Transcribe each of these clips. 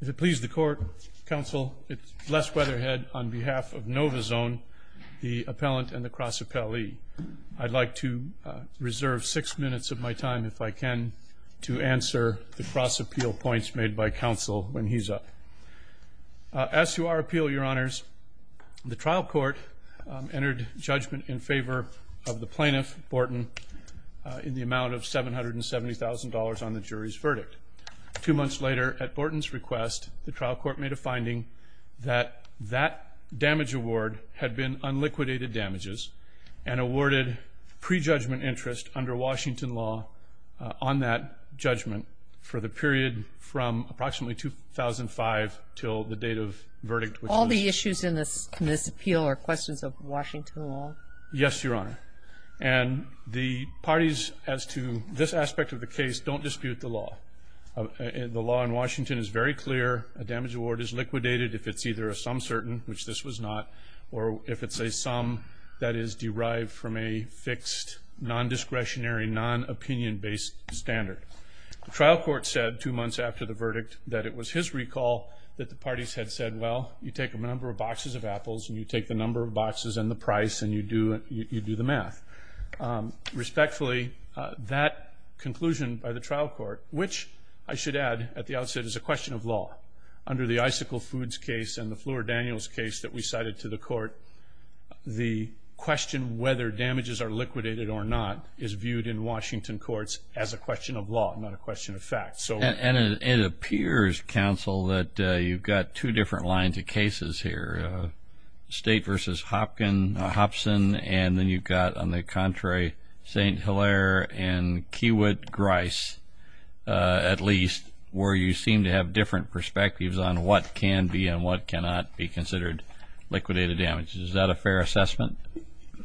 If it please the Court, Counsel, it's Les Weatherhead on behalf of Novazone, the appellant and the cross-appellee. I'd like to reserve six minutes of my time, if I can, to answer the cross-appeal points made by Counsel when he's up. As to our appeal, Your Honors, the trial court entered judgment in favor of the plaintiff, Borton, in the amount of $770,000 on the jury's verdict. Two months later, at Borton's request, the trial court made a finding that that damage award had been unliquidated damages and awarded pre-judgment interest under Washington law on that judgment for the period from approximately 2005 till the date of verdict. All the issues in this appeal are questions of Washington law? Yes, Your Honor. And the parties, as to this aspect of the case, don't dispute the law. The law in Washington is very clear. A damage award is liquidated if it's either a sum certain, which this was not, or if it's a sum that is derived from a fixed, non-discretionary, non-opinion-based standard. The trial court said, two months after the verdict, that it was his recall that the parties had said, well, you take a number of boxes of apples and you take the number of boxes and the price and you do the math. Respectfully, that conclusion by the trial court, which I should add at the outset, is a question of law. Under the Icicle Foods case and the Fleur Daniels case that we cited to the court, the question whether damages are liquidated or not is viewed in Washington courts as a question of law, not a question of fact. And it appears, counsel, that you've got two different lines of cases here. You've got State v. Hopson, and then you've got, on the contrary, St. Hilaire and Kiewit-Grice, at least, where you seem to have different perspectives on what can be and what cannot be considered liquidated damages. Is that a fair assessment?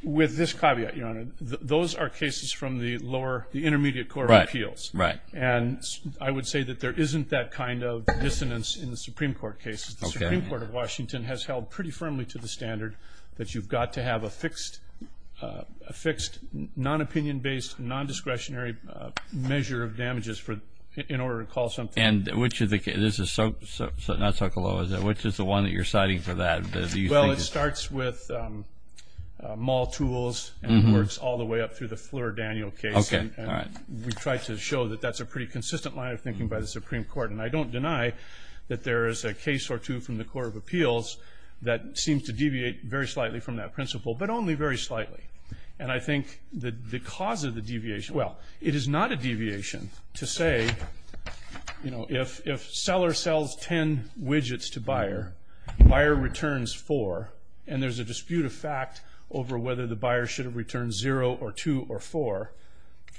With this caveat, Your Honor, those are cases from the lower, the intermediate court of appeals. Right, right. And I would say that there isn't that kind of dissonance in the Supreme Court cases. The Supreme Court of Washington has held pretty firmly to the standard that you've got to have a fixed, non-opinion-based, non-discretionary measure of damages in order to call something liquidated. And which is the case? This is not Sokolow, is it? Which is the one that you're citing for that? Well, it starts with Mall Tools, and it works all the way up through the Fleur Daniels case. Okay, all right. And we try to show that that's a pretty consistent line of thinking by the Supreme Court. And I don't deny that there is a case or two from the court of appeals that seems to deviate very slightly from that principle, but only very slightly. And I think the cause of the deviation, well, it is not a deviation to say, you know, if seller sells 10 widgets to buyer, buyer returns 4, and there's a dispute of fact over whether the buyer should have returned 0 or 2 or 4,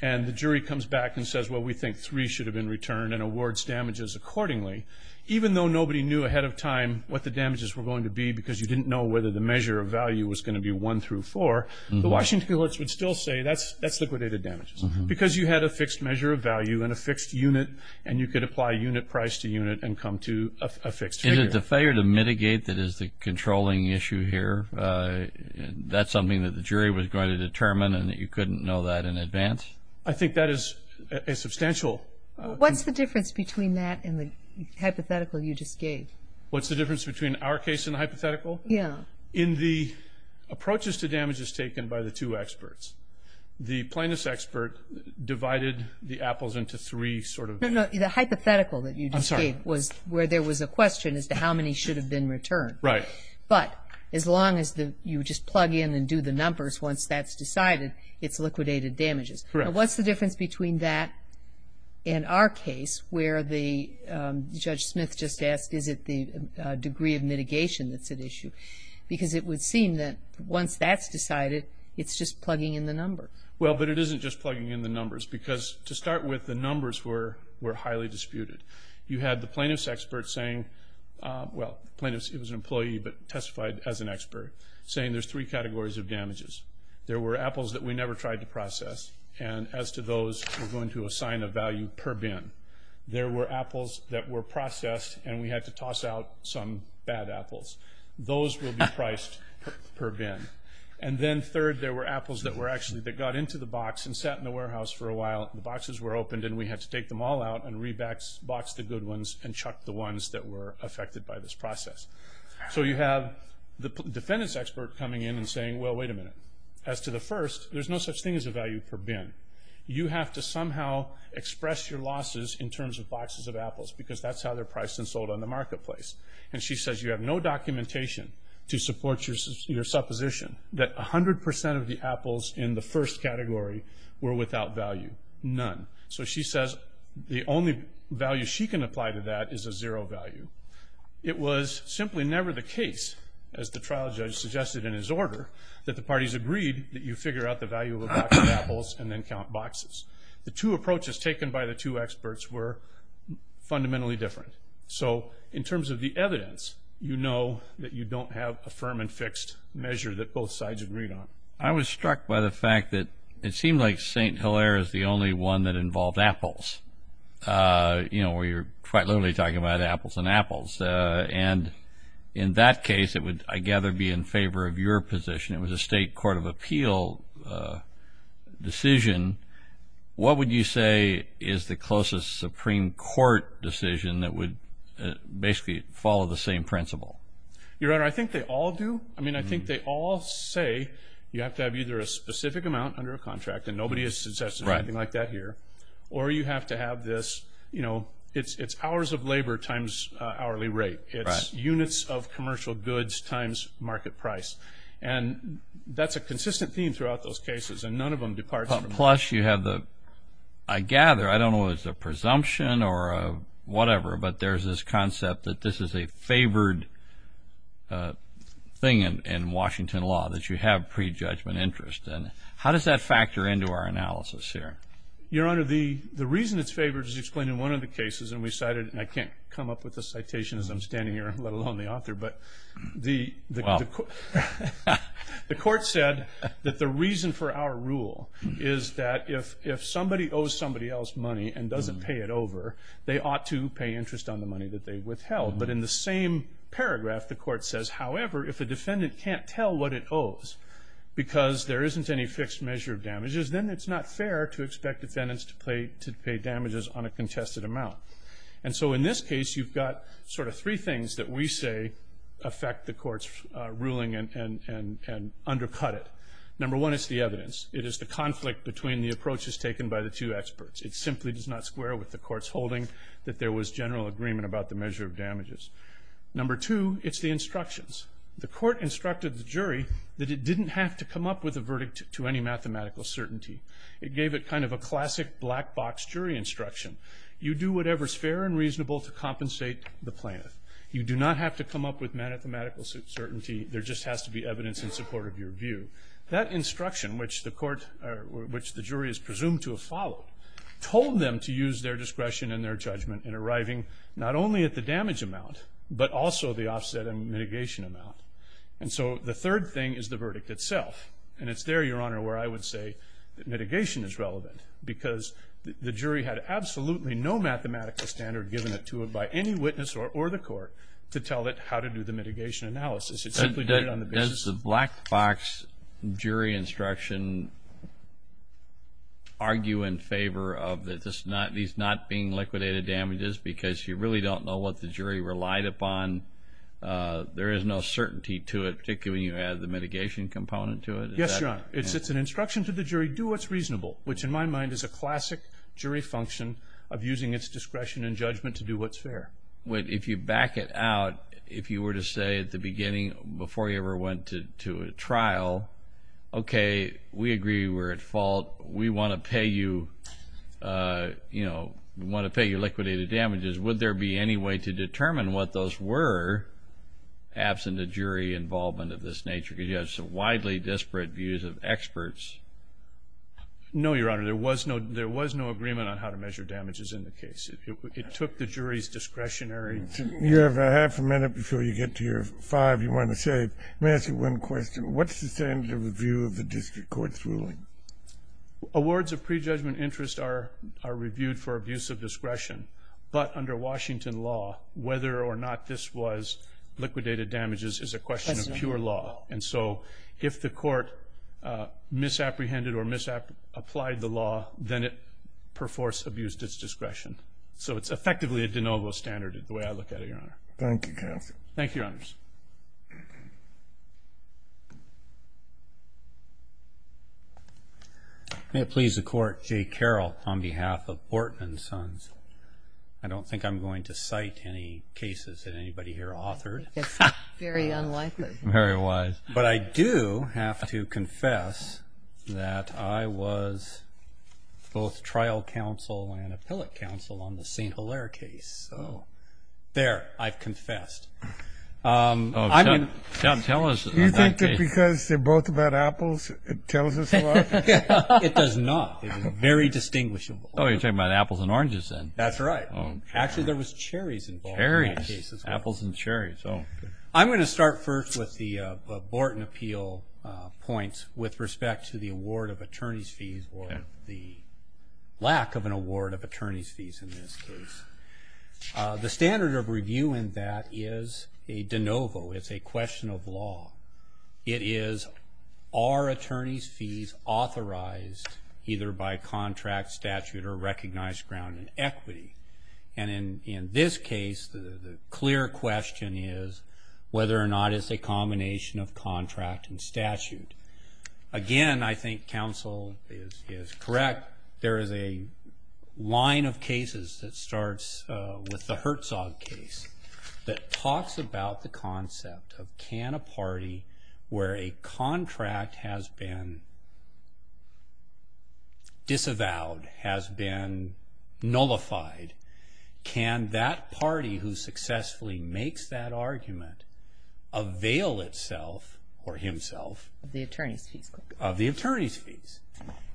and the jury comes back and says, well, we think 3 should have been returned and awards damages accordingly. Even though nobody knew ahead of time what the damages were going to be because you didn't know whether the measure of value was going to be 1 through 4, the Washington courts would still say that's liquidated damages. Because you had a fixed measure of value and a fixed unit, and you could apply unit price to unit and come to a fixed figure. Is it the failure to mitigate that is the controlling issue here? That's something that the jury was going to determine and that you couldn't know that in advance? I think that is a substantial... What's the difference between that and the hypothetical you just gave? What's the difference between our case and the hypothetical? In the approaches to damages taken by the two experts, the plaintiff's expert divided the apples into three sort of... No, no. The hypothetical that you just gave was where there was a question as to how many should have been returned. Right. But as long as you just plug in and do the numbers, once that's decided, it's liquidated damages. Correct. Now, what's the difference between that and our case where the... Judge Smith just asked, is it the degree of mitigation that's at issue? Because it would seem that once that's decided, it's just plugging in the numbers. Well, but it isn't just plugging in the numbers. Because to start with, the numbers were highly disputed. You had the plaintiff's expert saying... Well, plaintiff's... It was an employee, but testified as an expert, saying there's three categories of damages. There were apples that we never tried to process, and as to those, we're going to assign a value per bin. There were apples that were processed, and we had to toss out some bad apples. Those will be priced per bin. And then third, there were apples that were actually... That got into the box and sat in the warehouse for a while, and the boxes were opened, and we had to take them all out and re-box the good ones and chuck the ones that were affected by this process. So you have the defendant's expert coming in and saying, well, wait a minute. As to the first, there's no such thing as a value per bin. You have to somehow express your losses in terms of boxes of apples, because that's how they're priced and sold on the marketplace. And she says you have no documentation to support your supposition that 100% of the apples in the first category were without value. None. So she says the only value she can apply to that is a zero value. It was simply never the case, as the trial judge suggested in his order, that the parties agreed that you figure out the value of a box of apples and then count boxes. The two approaches taken by the two experts were fundamentally different. So in terms of the evidence, you know that you don't have a firm and fixed measure that both sides agreed on. I was struck by the fact that it seemed like St. Hilaire is the only one that involved apples. You know, we were quite literally talking about apples and apples. And in that case, it would, I gather, be in favor of your position. It was a state court of appeal decision. What would you say is the closest Supreme Court decision that would basically follow the same principle? Your Honor, I think they all do. I mean, I think they all say you have to have either a specific amount under a contract, and nobody has suggested anything like that here, or you have to have this, you know, it's hours of labor times hourly rate. It's units of commercial goods times market price. And that's a consistent theme throughout those cases, and none of them departs from that. Plus, you have the, I gather, I don't know if it's a presumption or whatever, but there's this concept that this is a favored thing in Washington law, that you have prejudgment interest. And how does that factor into our analysis here? Your Honor, the reason it's favored is explained in one of the cases, and we cited, and I can't come up with the citation as I'm standing here, let alone the author, but the court said that the reason for our rule is that if somebody owes somebody else money and doesn't pay it over, they ought to pay interest on the money that they withheld. But in the same paragraph, the court says, however, if a defendant can't tell what it isn't any fixed measure of damages, then it's not fair to expect defendants to pay damages on a contested amount. And so in this case, you've got sort of three things that we say affect the court's ruling and undercut it. Number one is the evidence. It is the conflict between the approaches taken by the two experts. It simply does not square with the court's holding that there was general agreement about the measure of damages. Number two, it's the instructions. The court instructed the jury that it didn't have to come up with a verdict to any mathematical certainty. It gave it kind of a classic black box jury instruction. You do whatever's fair and reasonable to compensate the plaintiff. You do not have to come up with mathematical certainty. There just has to be evidence in support of your view. That instruction, which the jury is presumed to have followed, told them to use their discretion and their judgment in arriving not only at the damage amount, but also the offset and the loss amount. And so the third thing is the verdict itself. And it's there, Your Honor, where I would say mitigation is relevant because the jury had absolutely no mathematical standard given to it by any witness or the court to tell it how to do the mitigation analysis. It simply did it on the basis of... Does the black box jury instruction argue in favor of these not being liquidated damages because you really don't know what the jury relied upon? There is no certainty to it, particularly when you add the mitigation component to it? Yes, Your Honor. It's an instruction to the jury, do what's reasonable, which in my mind is a classic jury function of using its discretion and judgment to do what's fair. If you back it out, if you were to say at the beginning, before you ever went to a trial, okay, we agree you were at fault. We want to pay you liquidated damages. Would there be any way to determine what those were, absent a jury involvement of this nature? Because you have some widely disparate views of experts. No, Your Honor. There was no agreement on how to measure damages in the case. It took the jury's discretionary... You have a half a minute before you get to your five you want to save. Let me ask you one question. What's the standard of review of the district court's ruling? Awards of prejudgment interest are reviewed for abuse of discretion, but under Washington law, whether or not this was liquidated damages is a question of pure law. And so if the court misapprehended or misapplied the law, then it perforce abused its discretion. So it's effectively a de novo standard, the way I look at it, Your Honor. Thank you, Your Honors. May it please the court, Jay Carroll on behalf of Bortman & Sons. I don't think I'm going to cite any cases that anybody here authored. That's very unlikely. Very wise. But I do have to confess that I was both trial counsel and appellate counsel on the St. Hilaire case, so there, I've confessed. Don't tell us. You think that because they're both about apples, it tells us a lot? It does not. It is very distinguishable. Oh, you're talking about apples and oranges, then? That's right. Actually, there was cherries involved in both cases. Apples and cherries, oh. I'm going to start first with the Borton appeal points with respect to the award of attorney's fees or the lack of an award of attorney's fees in this case. The standard of review in that is a de novo. It's a question of law. It is, are attorney's fees authorized either by contract, statute, or recognized ground in equity? And in this case, the clear question is whether or not it's a combination of contract and statute. Again, I think counsel is correct. There is a line of cases that starts with the Herzog case that talks about the concept of, can a party where a contract has been disavowed, has been nullified, can that party who successfully makes that argument avail itself or himself of the attorney's fees?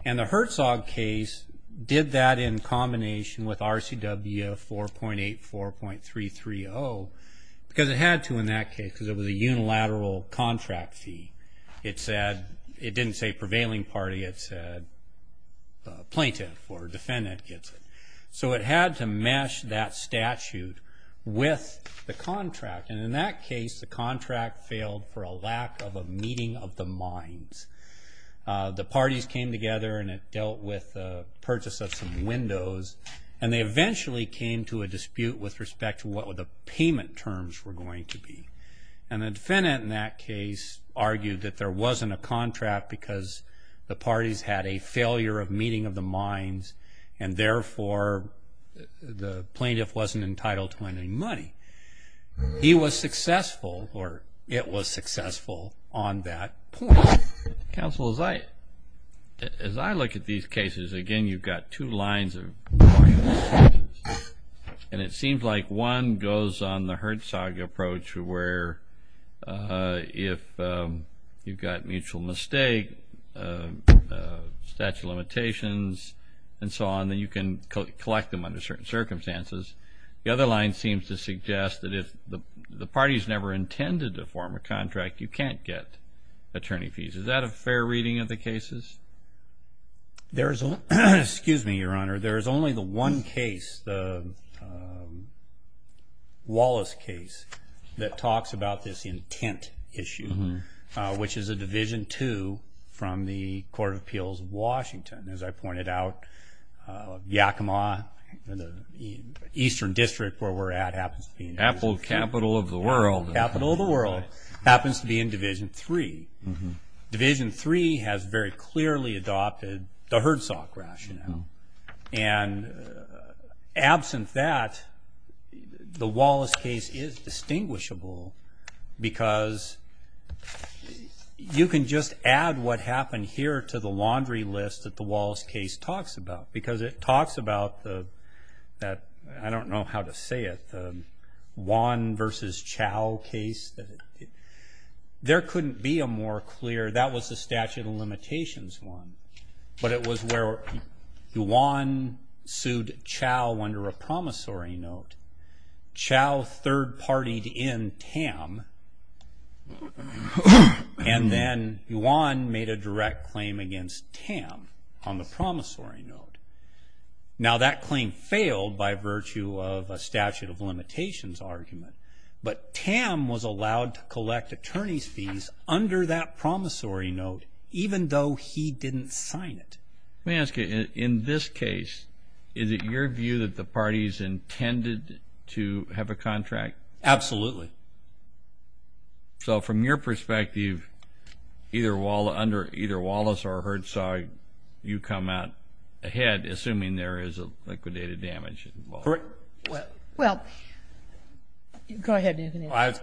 And the Herzog case did that in combination with RCW 4.84.330 because it had to in that case because it was a unilateral contract fee. It said, it didn't say prevailing party, it said plaintiff or defendant gets it. So it had to mesh that statute with the contract. And in that case, the contract failed for a lack of a meeting of the minds. The parties came together and it dealt with the purchase of some windows. And they eventually came to a dispute with respect to what the payment terms were going to be. And the defendant in that case argued that there wasn't a contract because the parties had a failure of meeting of the minds. And therefore, the plaintiff wasn't entitled to any money. He was successful, or it was successful on that point. Counsel, as I look at these cases, again, you've got two lines of arguments. And it seems like one goes on the Herzog approach where if you've got mutual mistake, statute of limitations, and so on, then you can collect them under certain circumstances. The other line seems to suggest that if the party's never intended to form a Is that a fair reading of the cases? There is only the one case, the Wallace case, that talks about this intent issue, which is a Division II from the Court of Appeals of Washington. As I pointed out, Yakima, the eastern district where we're at, happens to be in Division III. Capital of the world. Capital of the world happens to be in Division III. Division III has very clearly adopted the Herzog rationale. And absent that, the Wallace case is distinguishable because you can just add what happened here to the laundry list that the Wallace case talks about. Because it talks about the, I don't know how to say it, the Wan versus Chow case. There couldn't be a more clear, that was the statute of limitations one. But it was where Wan sued Chow under a promissory note. Chow third-partied in Tam, and then Wan made a direct claim against Tam on the promissory note. Now that claim failed by virtue of a statute of limitations argument. But Tam was allowed to collect attorney's fees under that promissory note, even though he didn't sign it. Let me ask you, in this case, is it your view that the parties intended to have a contract? Absolutely. So from your perspective, either Wallace or Herzog, you come out ahead, assuming there is a liquidated damage involved. Correct. Well, go ahead, Anthony. I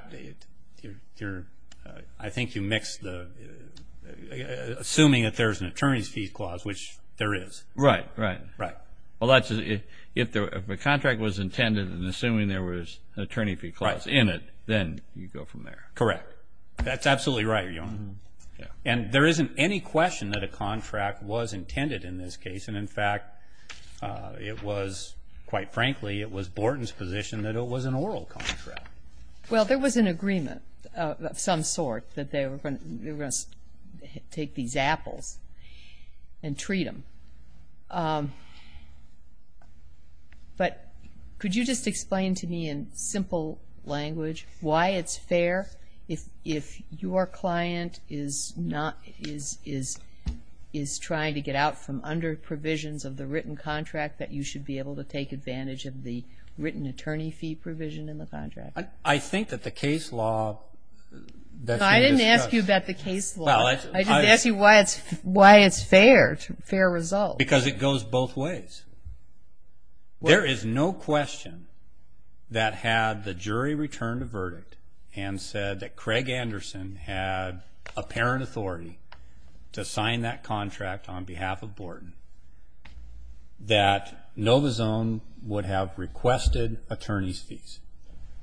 think you mixed the, assuming that there's an attorney's fee clause, which there is. Right, right. Right. Well, if a contract was intended and assuming there was an attorney fee clause in it, then you go from there. Correct. That's absolutely right, Your Honor. And there isn't any question that a contract was intended in this case. And in fact, it was, quite frankly, it was Borton's position that it was an oral contract. Well, there was an agreement of some sort that they were going to take these apples and treat them. But could you just explain to me, in simple language, why it's fair if your out from under provisions of the written contract that you should be able to take advantage of the written attorney fee provision in the contract? I think that the case law that you discussed. I didn't ask you about the case law. I just asked you why it's fair, fair result. Because it goes both ways. There is no question that had the jury returned a verdict and said that Craig Anderson had apparent authority to sign that contract on behalf of Borton, that NovaZone would have requested attorney's fees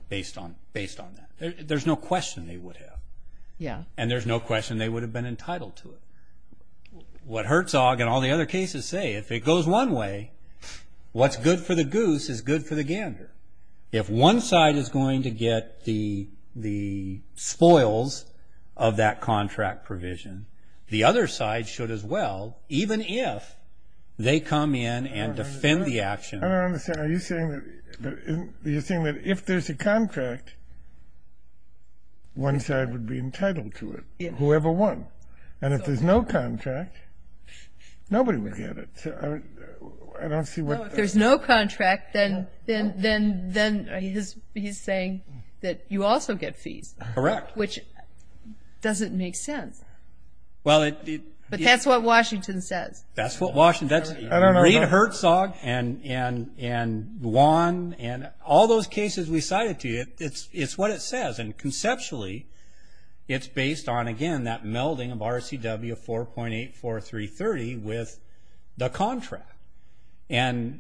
based on that. There's no question they would have. And there's no question they would have been entitled to it. What Herzog and all the other cases say, if it goes one way, what's good for the goose is good for the gander. If one side is going to get the spoils of that contract provision, the other side should as well, even if they come in and defend the action. I don't understand. Are you saying that if there's a contract, one side would be entitled to it, whoever won? And if there's no contract, nobody would get it. I don't see what... If there's no contract, then he's saying that you also get fees, which doesn't make sense. But that's what Washington says. That's what Washington says. Reid Herzog and Juan and all those cases we cited to you, it's what it says. And conceptually, it's based on, again, that melding of RCW 4.84330 with the contract. And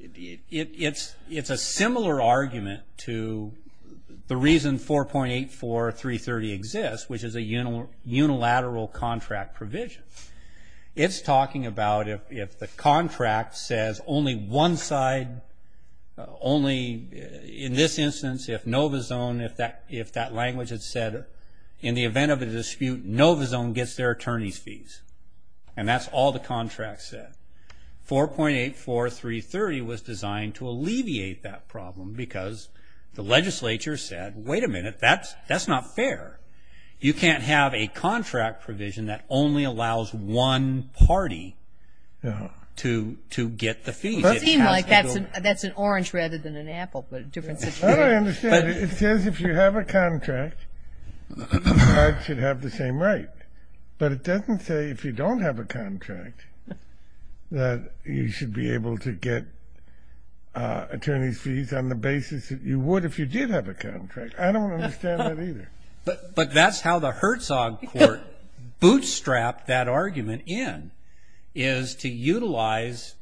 it's a similar argument to the reason 4.84330 exists, which is a unilateral contract provision. It's talking about if the contract says only one side, only in this instance, if NovaZone, if that language had said, in the event of a dispute, NovaZone gets their attorney's fees. And that's all the contract said. 4.84330 was designed to alleviate that problem because the legislature said, wait a minute, that's not fair. You can't have a contract provision that only allows one party to get the fees. It has to go... That's an orange rather than an apple, but a different situation. I don't understand. It says if you have a contract, each side should have the same right. But it doesn't say if you don't have a contract that you should be able to get attorney's fees on the basis that you would if you did have a contract. I don't understand that either. But that's how the Herzog Court bootstrapped that argument in, is to utilize,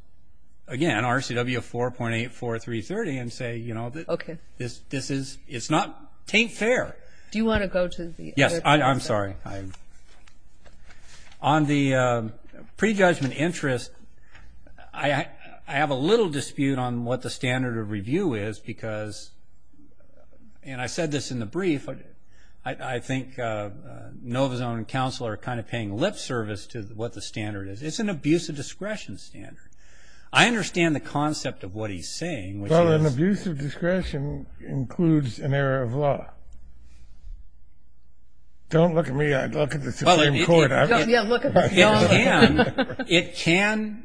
again, RCW 4.84330 and say, you know, this is, it's not, it ain't fair. Do you want to go to the other part of this? Yes, I'm sorry. On the prejudgment interest, I have a little dispute on what the standard of review is because, and I said this in the brief, I think NovaZone and counsel are kind of paying lip service to what the standard is. It's an abuse of discretion standard. I understand the concept of what he's saying, which is... It includes an error of law. Don't look at me, look at the Supreme Court. It can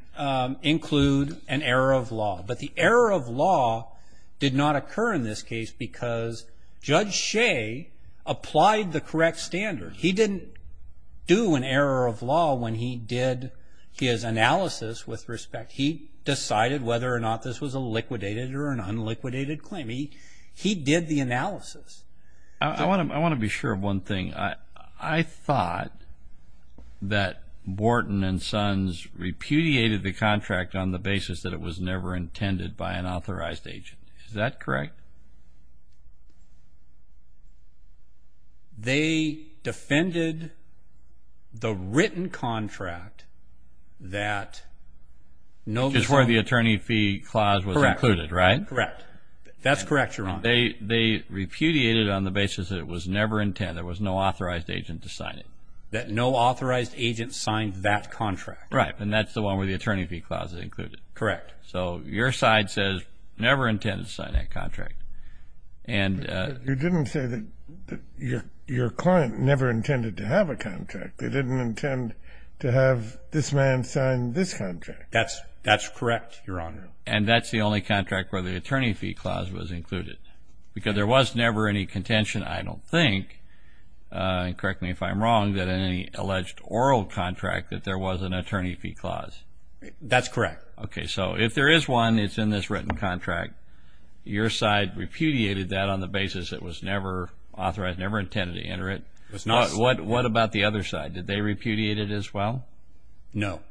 include an error of law, but the error of law did not occur in this case because Judge Shea applied the correct standard. He didn't do an error of law when he did his analysis with respect. He decided whether or not this was a liquidated or an unliquidated claim. He did the analysis. I want to be sure of one thing. I thought that Wharton and Sons repudiated the contract on the basis that it was never intended by an authorized agent. Is that correct? Correct. They defended the written contract that NovaZone... Which is where the attorney fee clause was included, right? Correct. That's correct, Your Honor. They repudiated it on the basis that it was never intended, there was no authorized agent to sign it. That no authorized agent signed that contract. Right, and that's the one where the attorney fee clause is included. Correct. So your side says, never intended to sign that contract. You didn't say that your client never intended to have a contract. They didn't intend to have this man sign this contract. That's correct, Your Honor. And that's the only contract where the attorney fee clause was included because there was never any contention, I don't think, and correct me if I'm wrong, that in any alleged oral contract that there was an attorney fee clause. That's correct. Okay, so if there is one, it's in this written contract, your side repudiated that on the basis it was never authorized, never intended to enter it. What about the other side? Did they repudiate it as well? No.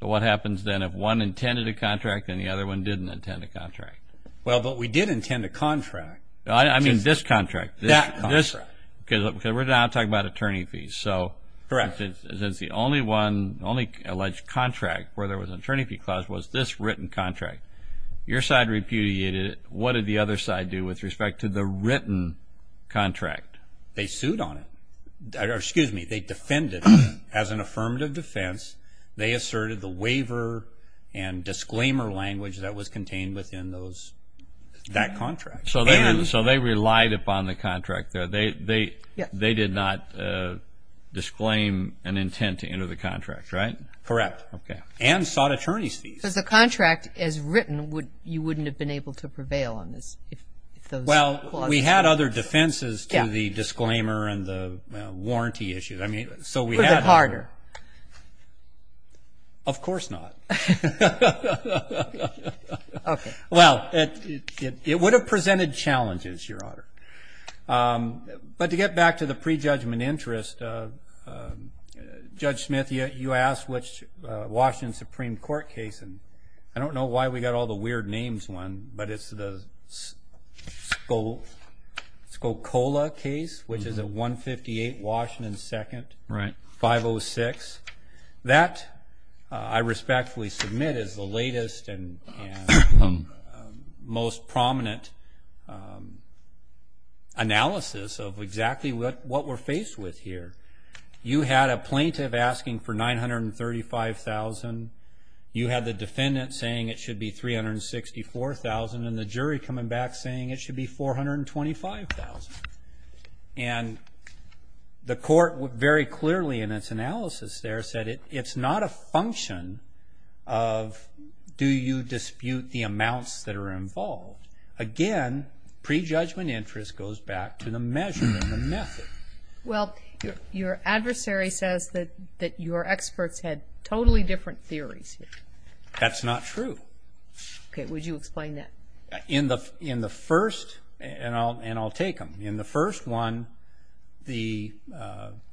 So what happens then if one intended a contract and the other one didn't intend a contract? Well, but we did intend a contract. I mean this contract. That contract. Because we're now talking about attorney fees. Correct. The only alleged contract where there was an attorney fee clause was this written contract. Your side repudiated it. What did the other side do with respect to the written contract? They sued on it. Or excuse me, they defended it as an affirmative defense. They asserted the waiver and disclaimer language that was contained within that contract. So they relied upon the contract. They did not disclaim an intent to enter the contract, right? Correct. And sought attorney fees. Because the contract is written, you wouldn't have been able to prevail on this if those clauses were there. Well, we had other defenses to the disclaimer and the warranty issues. I mean, so we had. Was it harder? Of course not. Okay. Well, it would have presented challenges, Your Honor. But to get back to the prejudgment interest, Judge Smith, you asked which Washington Supreme Court case, and I don't know why we got all the weird names one, but it's the Scocola case, which is a 158 Washington 2nd, 506. That, I respectfully submit, is the latest and most prominent analysis of exactly what we're faced with here. You had a plaintiff asking for $935,000. You had the defendant saying it should be $364,000. And the jury coming back saying it should be $425,000. And the court very clearly in its analysis there said it's not a function of do you dispute the amounts that are involved. Again, prejudgment interest goes back to the measure and the method. Well, your adversary says that your experts had totally different theories. That's not true. Okay. Would you explain that? In the first, and I'll take them. In the first one, the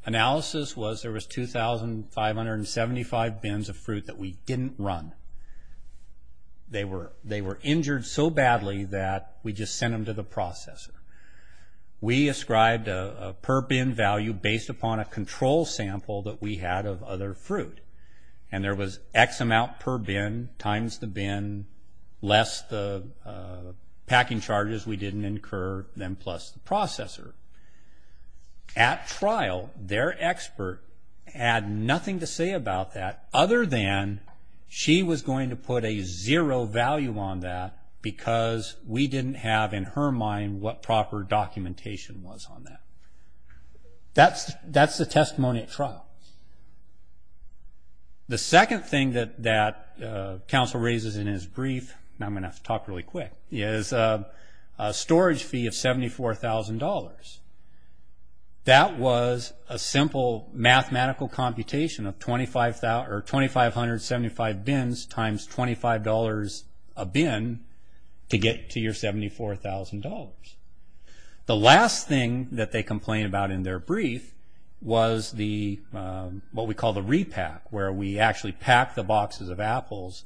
analysis was there was 2,575 bins of fruit that we didn't run. They were injured so badly that we just sent them to the processor. We ascribed a per bin value based upon a control sample that we had of other fruit. And there was X amount per bin times the bin less the packing charges we didn't incur than plus the processor. At trial, their expert had nothing to say about that other than she was going to put a zero value on that because we didn't have in her mind what proper documentation was on that. That's the testimony at trial. The second thing that counsel raises in his brief, and I'm going to have to talk really quick, is a storage fee of $74,000. That was a simple mathematical computation of 2,575 bins times $25 a bin to get to your $74,000. The last thing that they complain about in their brief was what we call the repack, where we actually pack the boxes of apples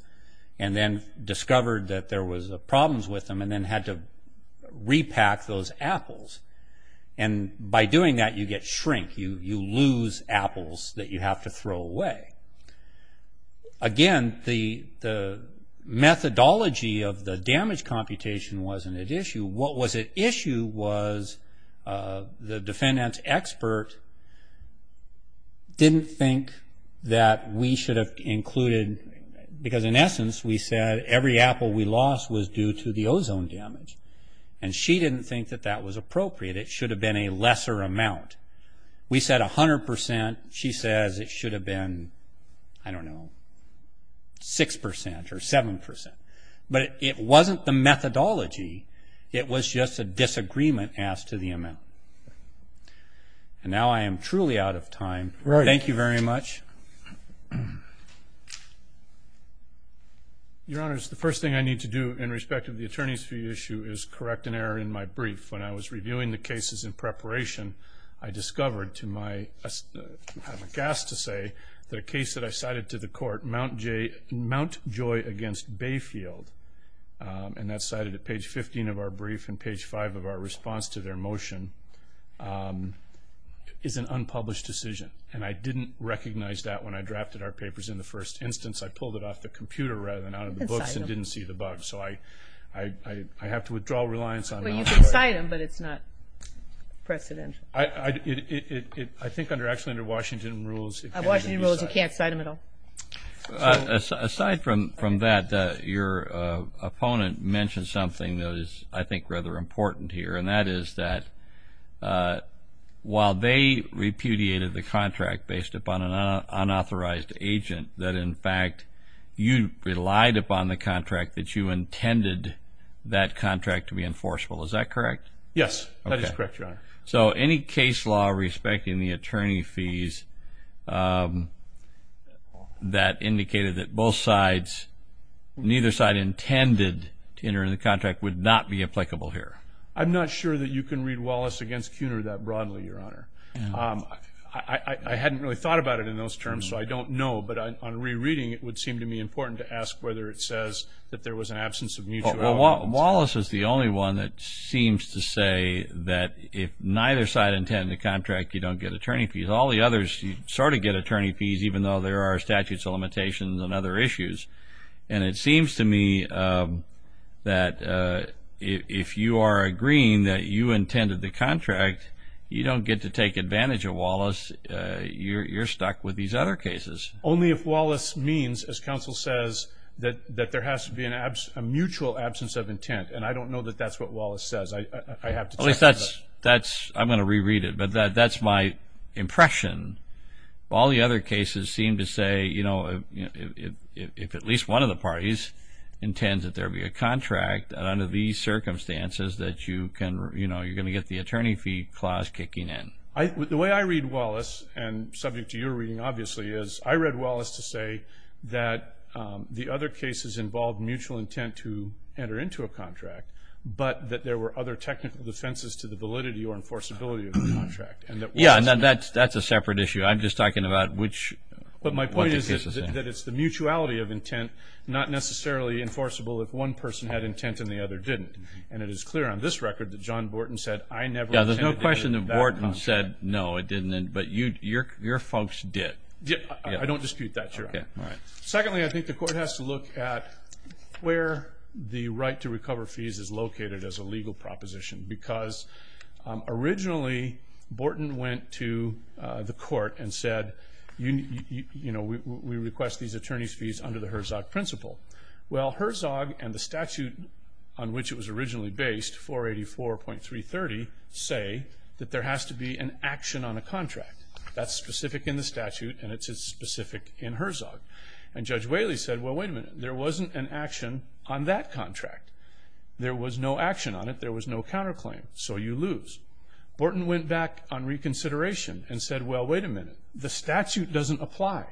and then discovered that there was problems with them and then had to repack those apples. And by doing that, you get shrink. You lose apples that you have to throw away. Again, the methodology of the damage computation wasn't at issue. What was at issue was the defendant's expert didn't think that we should have included, because in essence we said every apple we lost was due to the ozone damage, and she didn't think that that was appropriate. It should have been a lesser amount. We said 100%. She says it should have been, I don't know, 6% or 7%. But it wasn't the methodology. It was just a disagreement as to the amount. And now I am truly out of time. Thank you very much. Your Honors, the first thing I need to do in respect of the attorney's fee issue is correct an error in my brief. When I was reviewing the cases in preparation, I discovered to my, I'm aghast to say, that a case that I cited to the court, Mount Joy against Bayfield, and that's cited at page 15 of our brief and page 5 of our response to their motion, is an unpublished decision. And I didn't recognize that when I drafted our papers. In the first instance, I pulled it off the computer rather than out of the books and didn't see the bug. So I have to withdraw reliance on Mount Joy. Well, you can cite them, but it's not precedential. I think actually under Washington rules it can't be cited. Under Washington rules you can't cite them at all. Aside from that, your opponent mentioned something that is, I think, rather important here, and that is that while they repudiated the contract based upon an unauthorized agent, that in fact you relied upon the contract that you intended that contract to be enforceable. Is that correct? Yes, that is correct, Your Honor. So any case law respecting the attorney fees that indicated that both sides, neither side intended to enter into the contract would not be applicable here? I'm not sure that you can read Wallace against Kuhner that broadly, Your Honor. I hadn't really thought about it in those terms, so I don't know. But on rereading it would seem to me important to ask whether it says that there was an absence of mutuality. Well, Wallace is the only one that seems to say that if neither side intended the contract, you don't get attorney fees. All the others sort of get attorney fees, even though there are statutes of limitations and other issues. And it seems to me that if you are agreeing that you intended the contract, you don't get to take advantage of Wallace. You're stuck with these other cases. Only if Wallace means, as counsel says, that there has to be a mutual absence of intent. And I don't know that that's what Wallace says. I have to check that. At least that's, I'm going to reread it, but that's my impression. All the other cases seem to say, you know, if at least one of the parties intends that there be a contract, under these circumstances that you can, you know, you're going to get the attorney fee clause kicking in. The way I read Wallace, and subject to your reading obviously, is I read Wallace to say that the other cases involved mutual intent to enter into a contract, but that there were other technical defenses to the validity or enforceability of the contract. Yeah, and that's a separate issue. I'm just talking about which cases. But my point is that it's the mutuality of intent, not necessarily enforceable if one person had intent and the other didn't. And it is clear on this record that John Borton said, Yeah, there's no question that Borton said, no, it didn't, but your folks did. I don't dispute that, Your Honor. Secondly, I think the court has to look at where the right to recover fees is located as a legal proposition, because originally Borton went to the court and said, you know, we request these attorney's fees under the Herzog principle. Well, Herzog and the statute on which it was originally based, 484.330, say that there has to be an action on a contract. That's specific in the statute, and it's specific in Herzog. And Judge Whaley said, well, wait a minute. There wasn't an action on that contract. There was no action on it. There was no counterclaim. So you lose. Borton went back on reconsideration and said, well, wait a minute. The statute doesn't apply.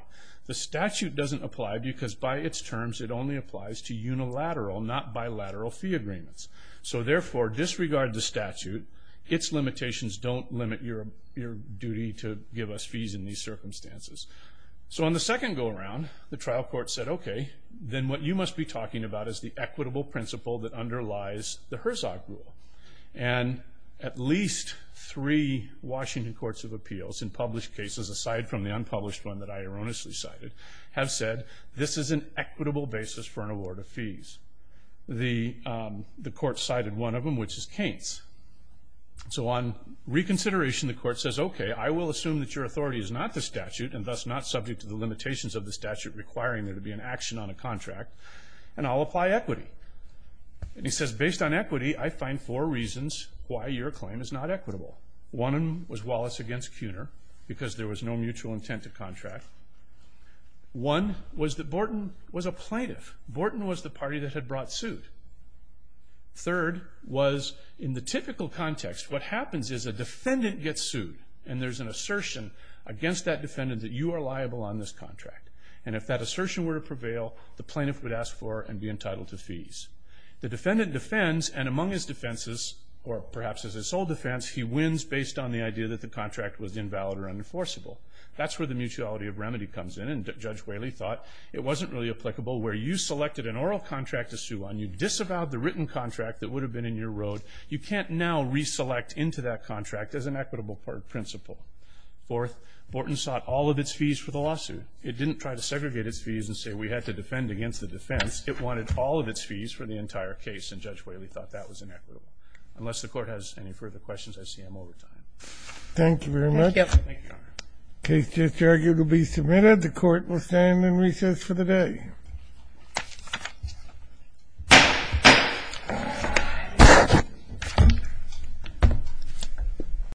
The statute doesn't apply because by its terms it only applies to unilateral, not bilateral fee agreements. So, therefore, disregard the statute. Its limitations don't limit your duty to give us fees in these circumstances. So on the second go-around, the trial court said, okay, then what you must be talking about is the equitable principle that underlies the Herzog rule. And at least three Washington courts of appeals in published cases, aside from the unpublished one that I erroneously cited, have said this is an equitable basis for an award of fees. The court cited one of them, which is Kaint's. So on reconsideration, the court says, okay, I will assume that your authority is not the statute and thus not subject to the limitations of the statute requiring there to be an action on a contract, and I'll apply equity. And he says, based on equity, I find four reasons why your claim is not equitable. One of them was Wallace against Kuhner because there was no mutual intent to contract. One was that Borton was a plaintiff. Borton was the party that had brought suit. Third was in the typical context, what happens is a defendant gets sued and there's an assertion against that defendant that you are liable on this contract. And if that assertion were to prevail, the plaintiff would ask for and be entitled to fees. The defendant defends, and among his defenses, or perhaps as a sole defense, he wins based on the idea that the contract was invalid or unenforceable. That's where the mutuality of remedy comes in, and Judge Whaley thought it wasn't really applicable. Where you selected an oral contract to sue on, you disavowed the written contract that would have been in your road. You can't now reselect into that contract as an equitable principle. Fourth, Borton sought all of its fees for the lawsuit. It didn't try to segregate its fees and say we had to defend against the defense. It wanted all of its fees for the entire case, and Judge Whaley thought that was inequitable. Unless the Court has any further questions, I see I'm over time. Thank you very much. Thank you. The case just argued will be submitted. The Court will stand in recess for the day.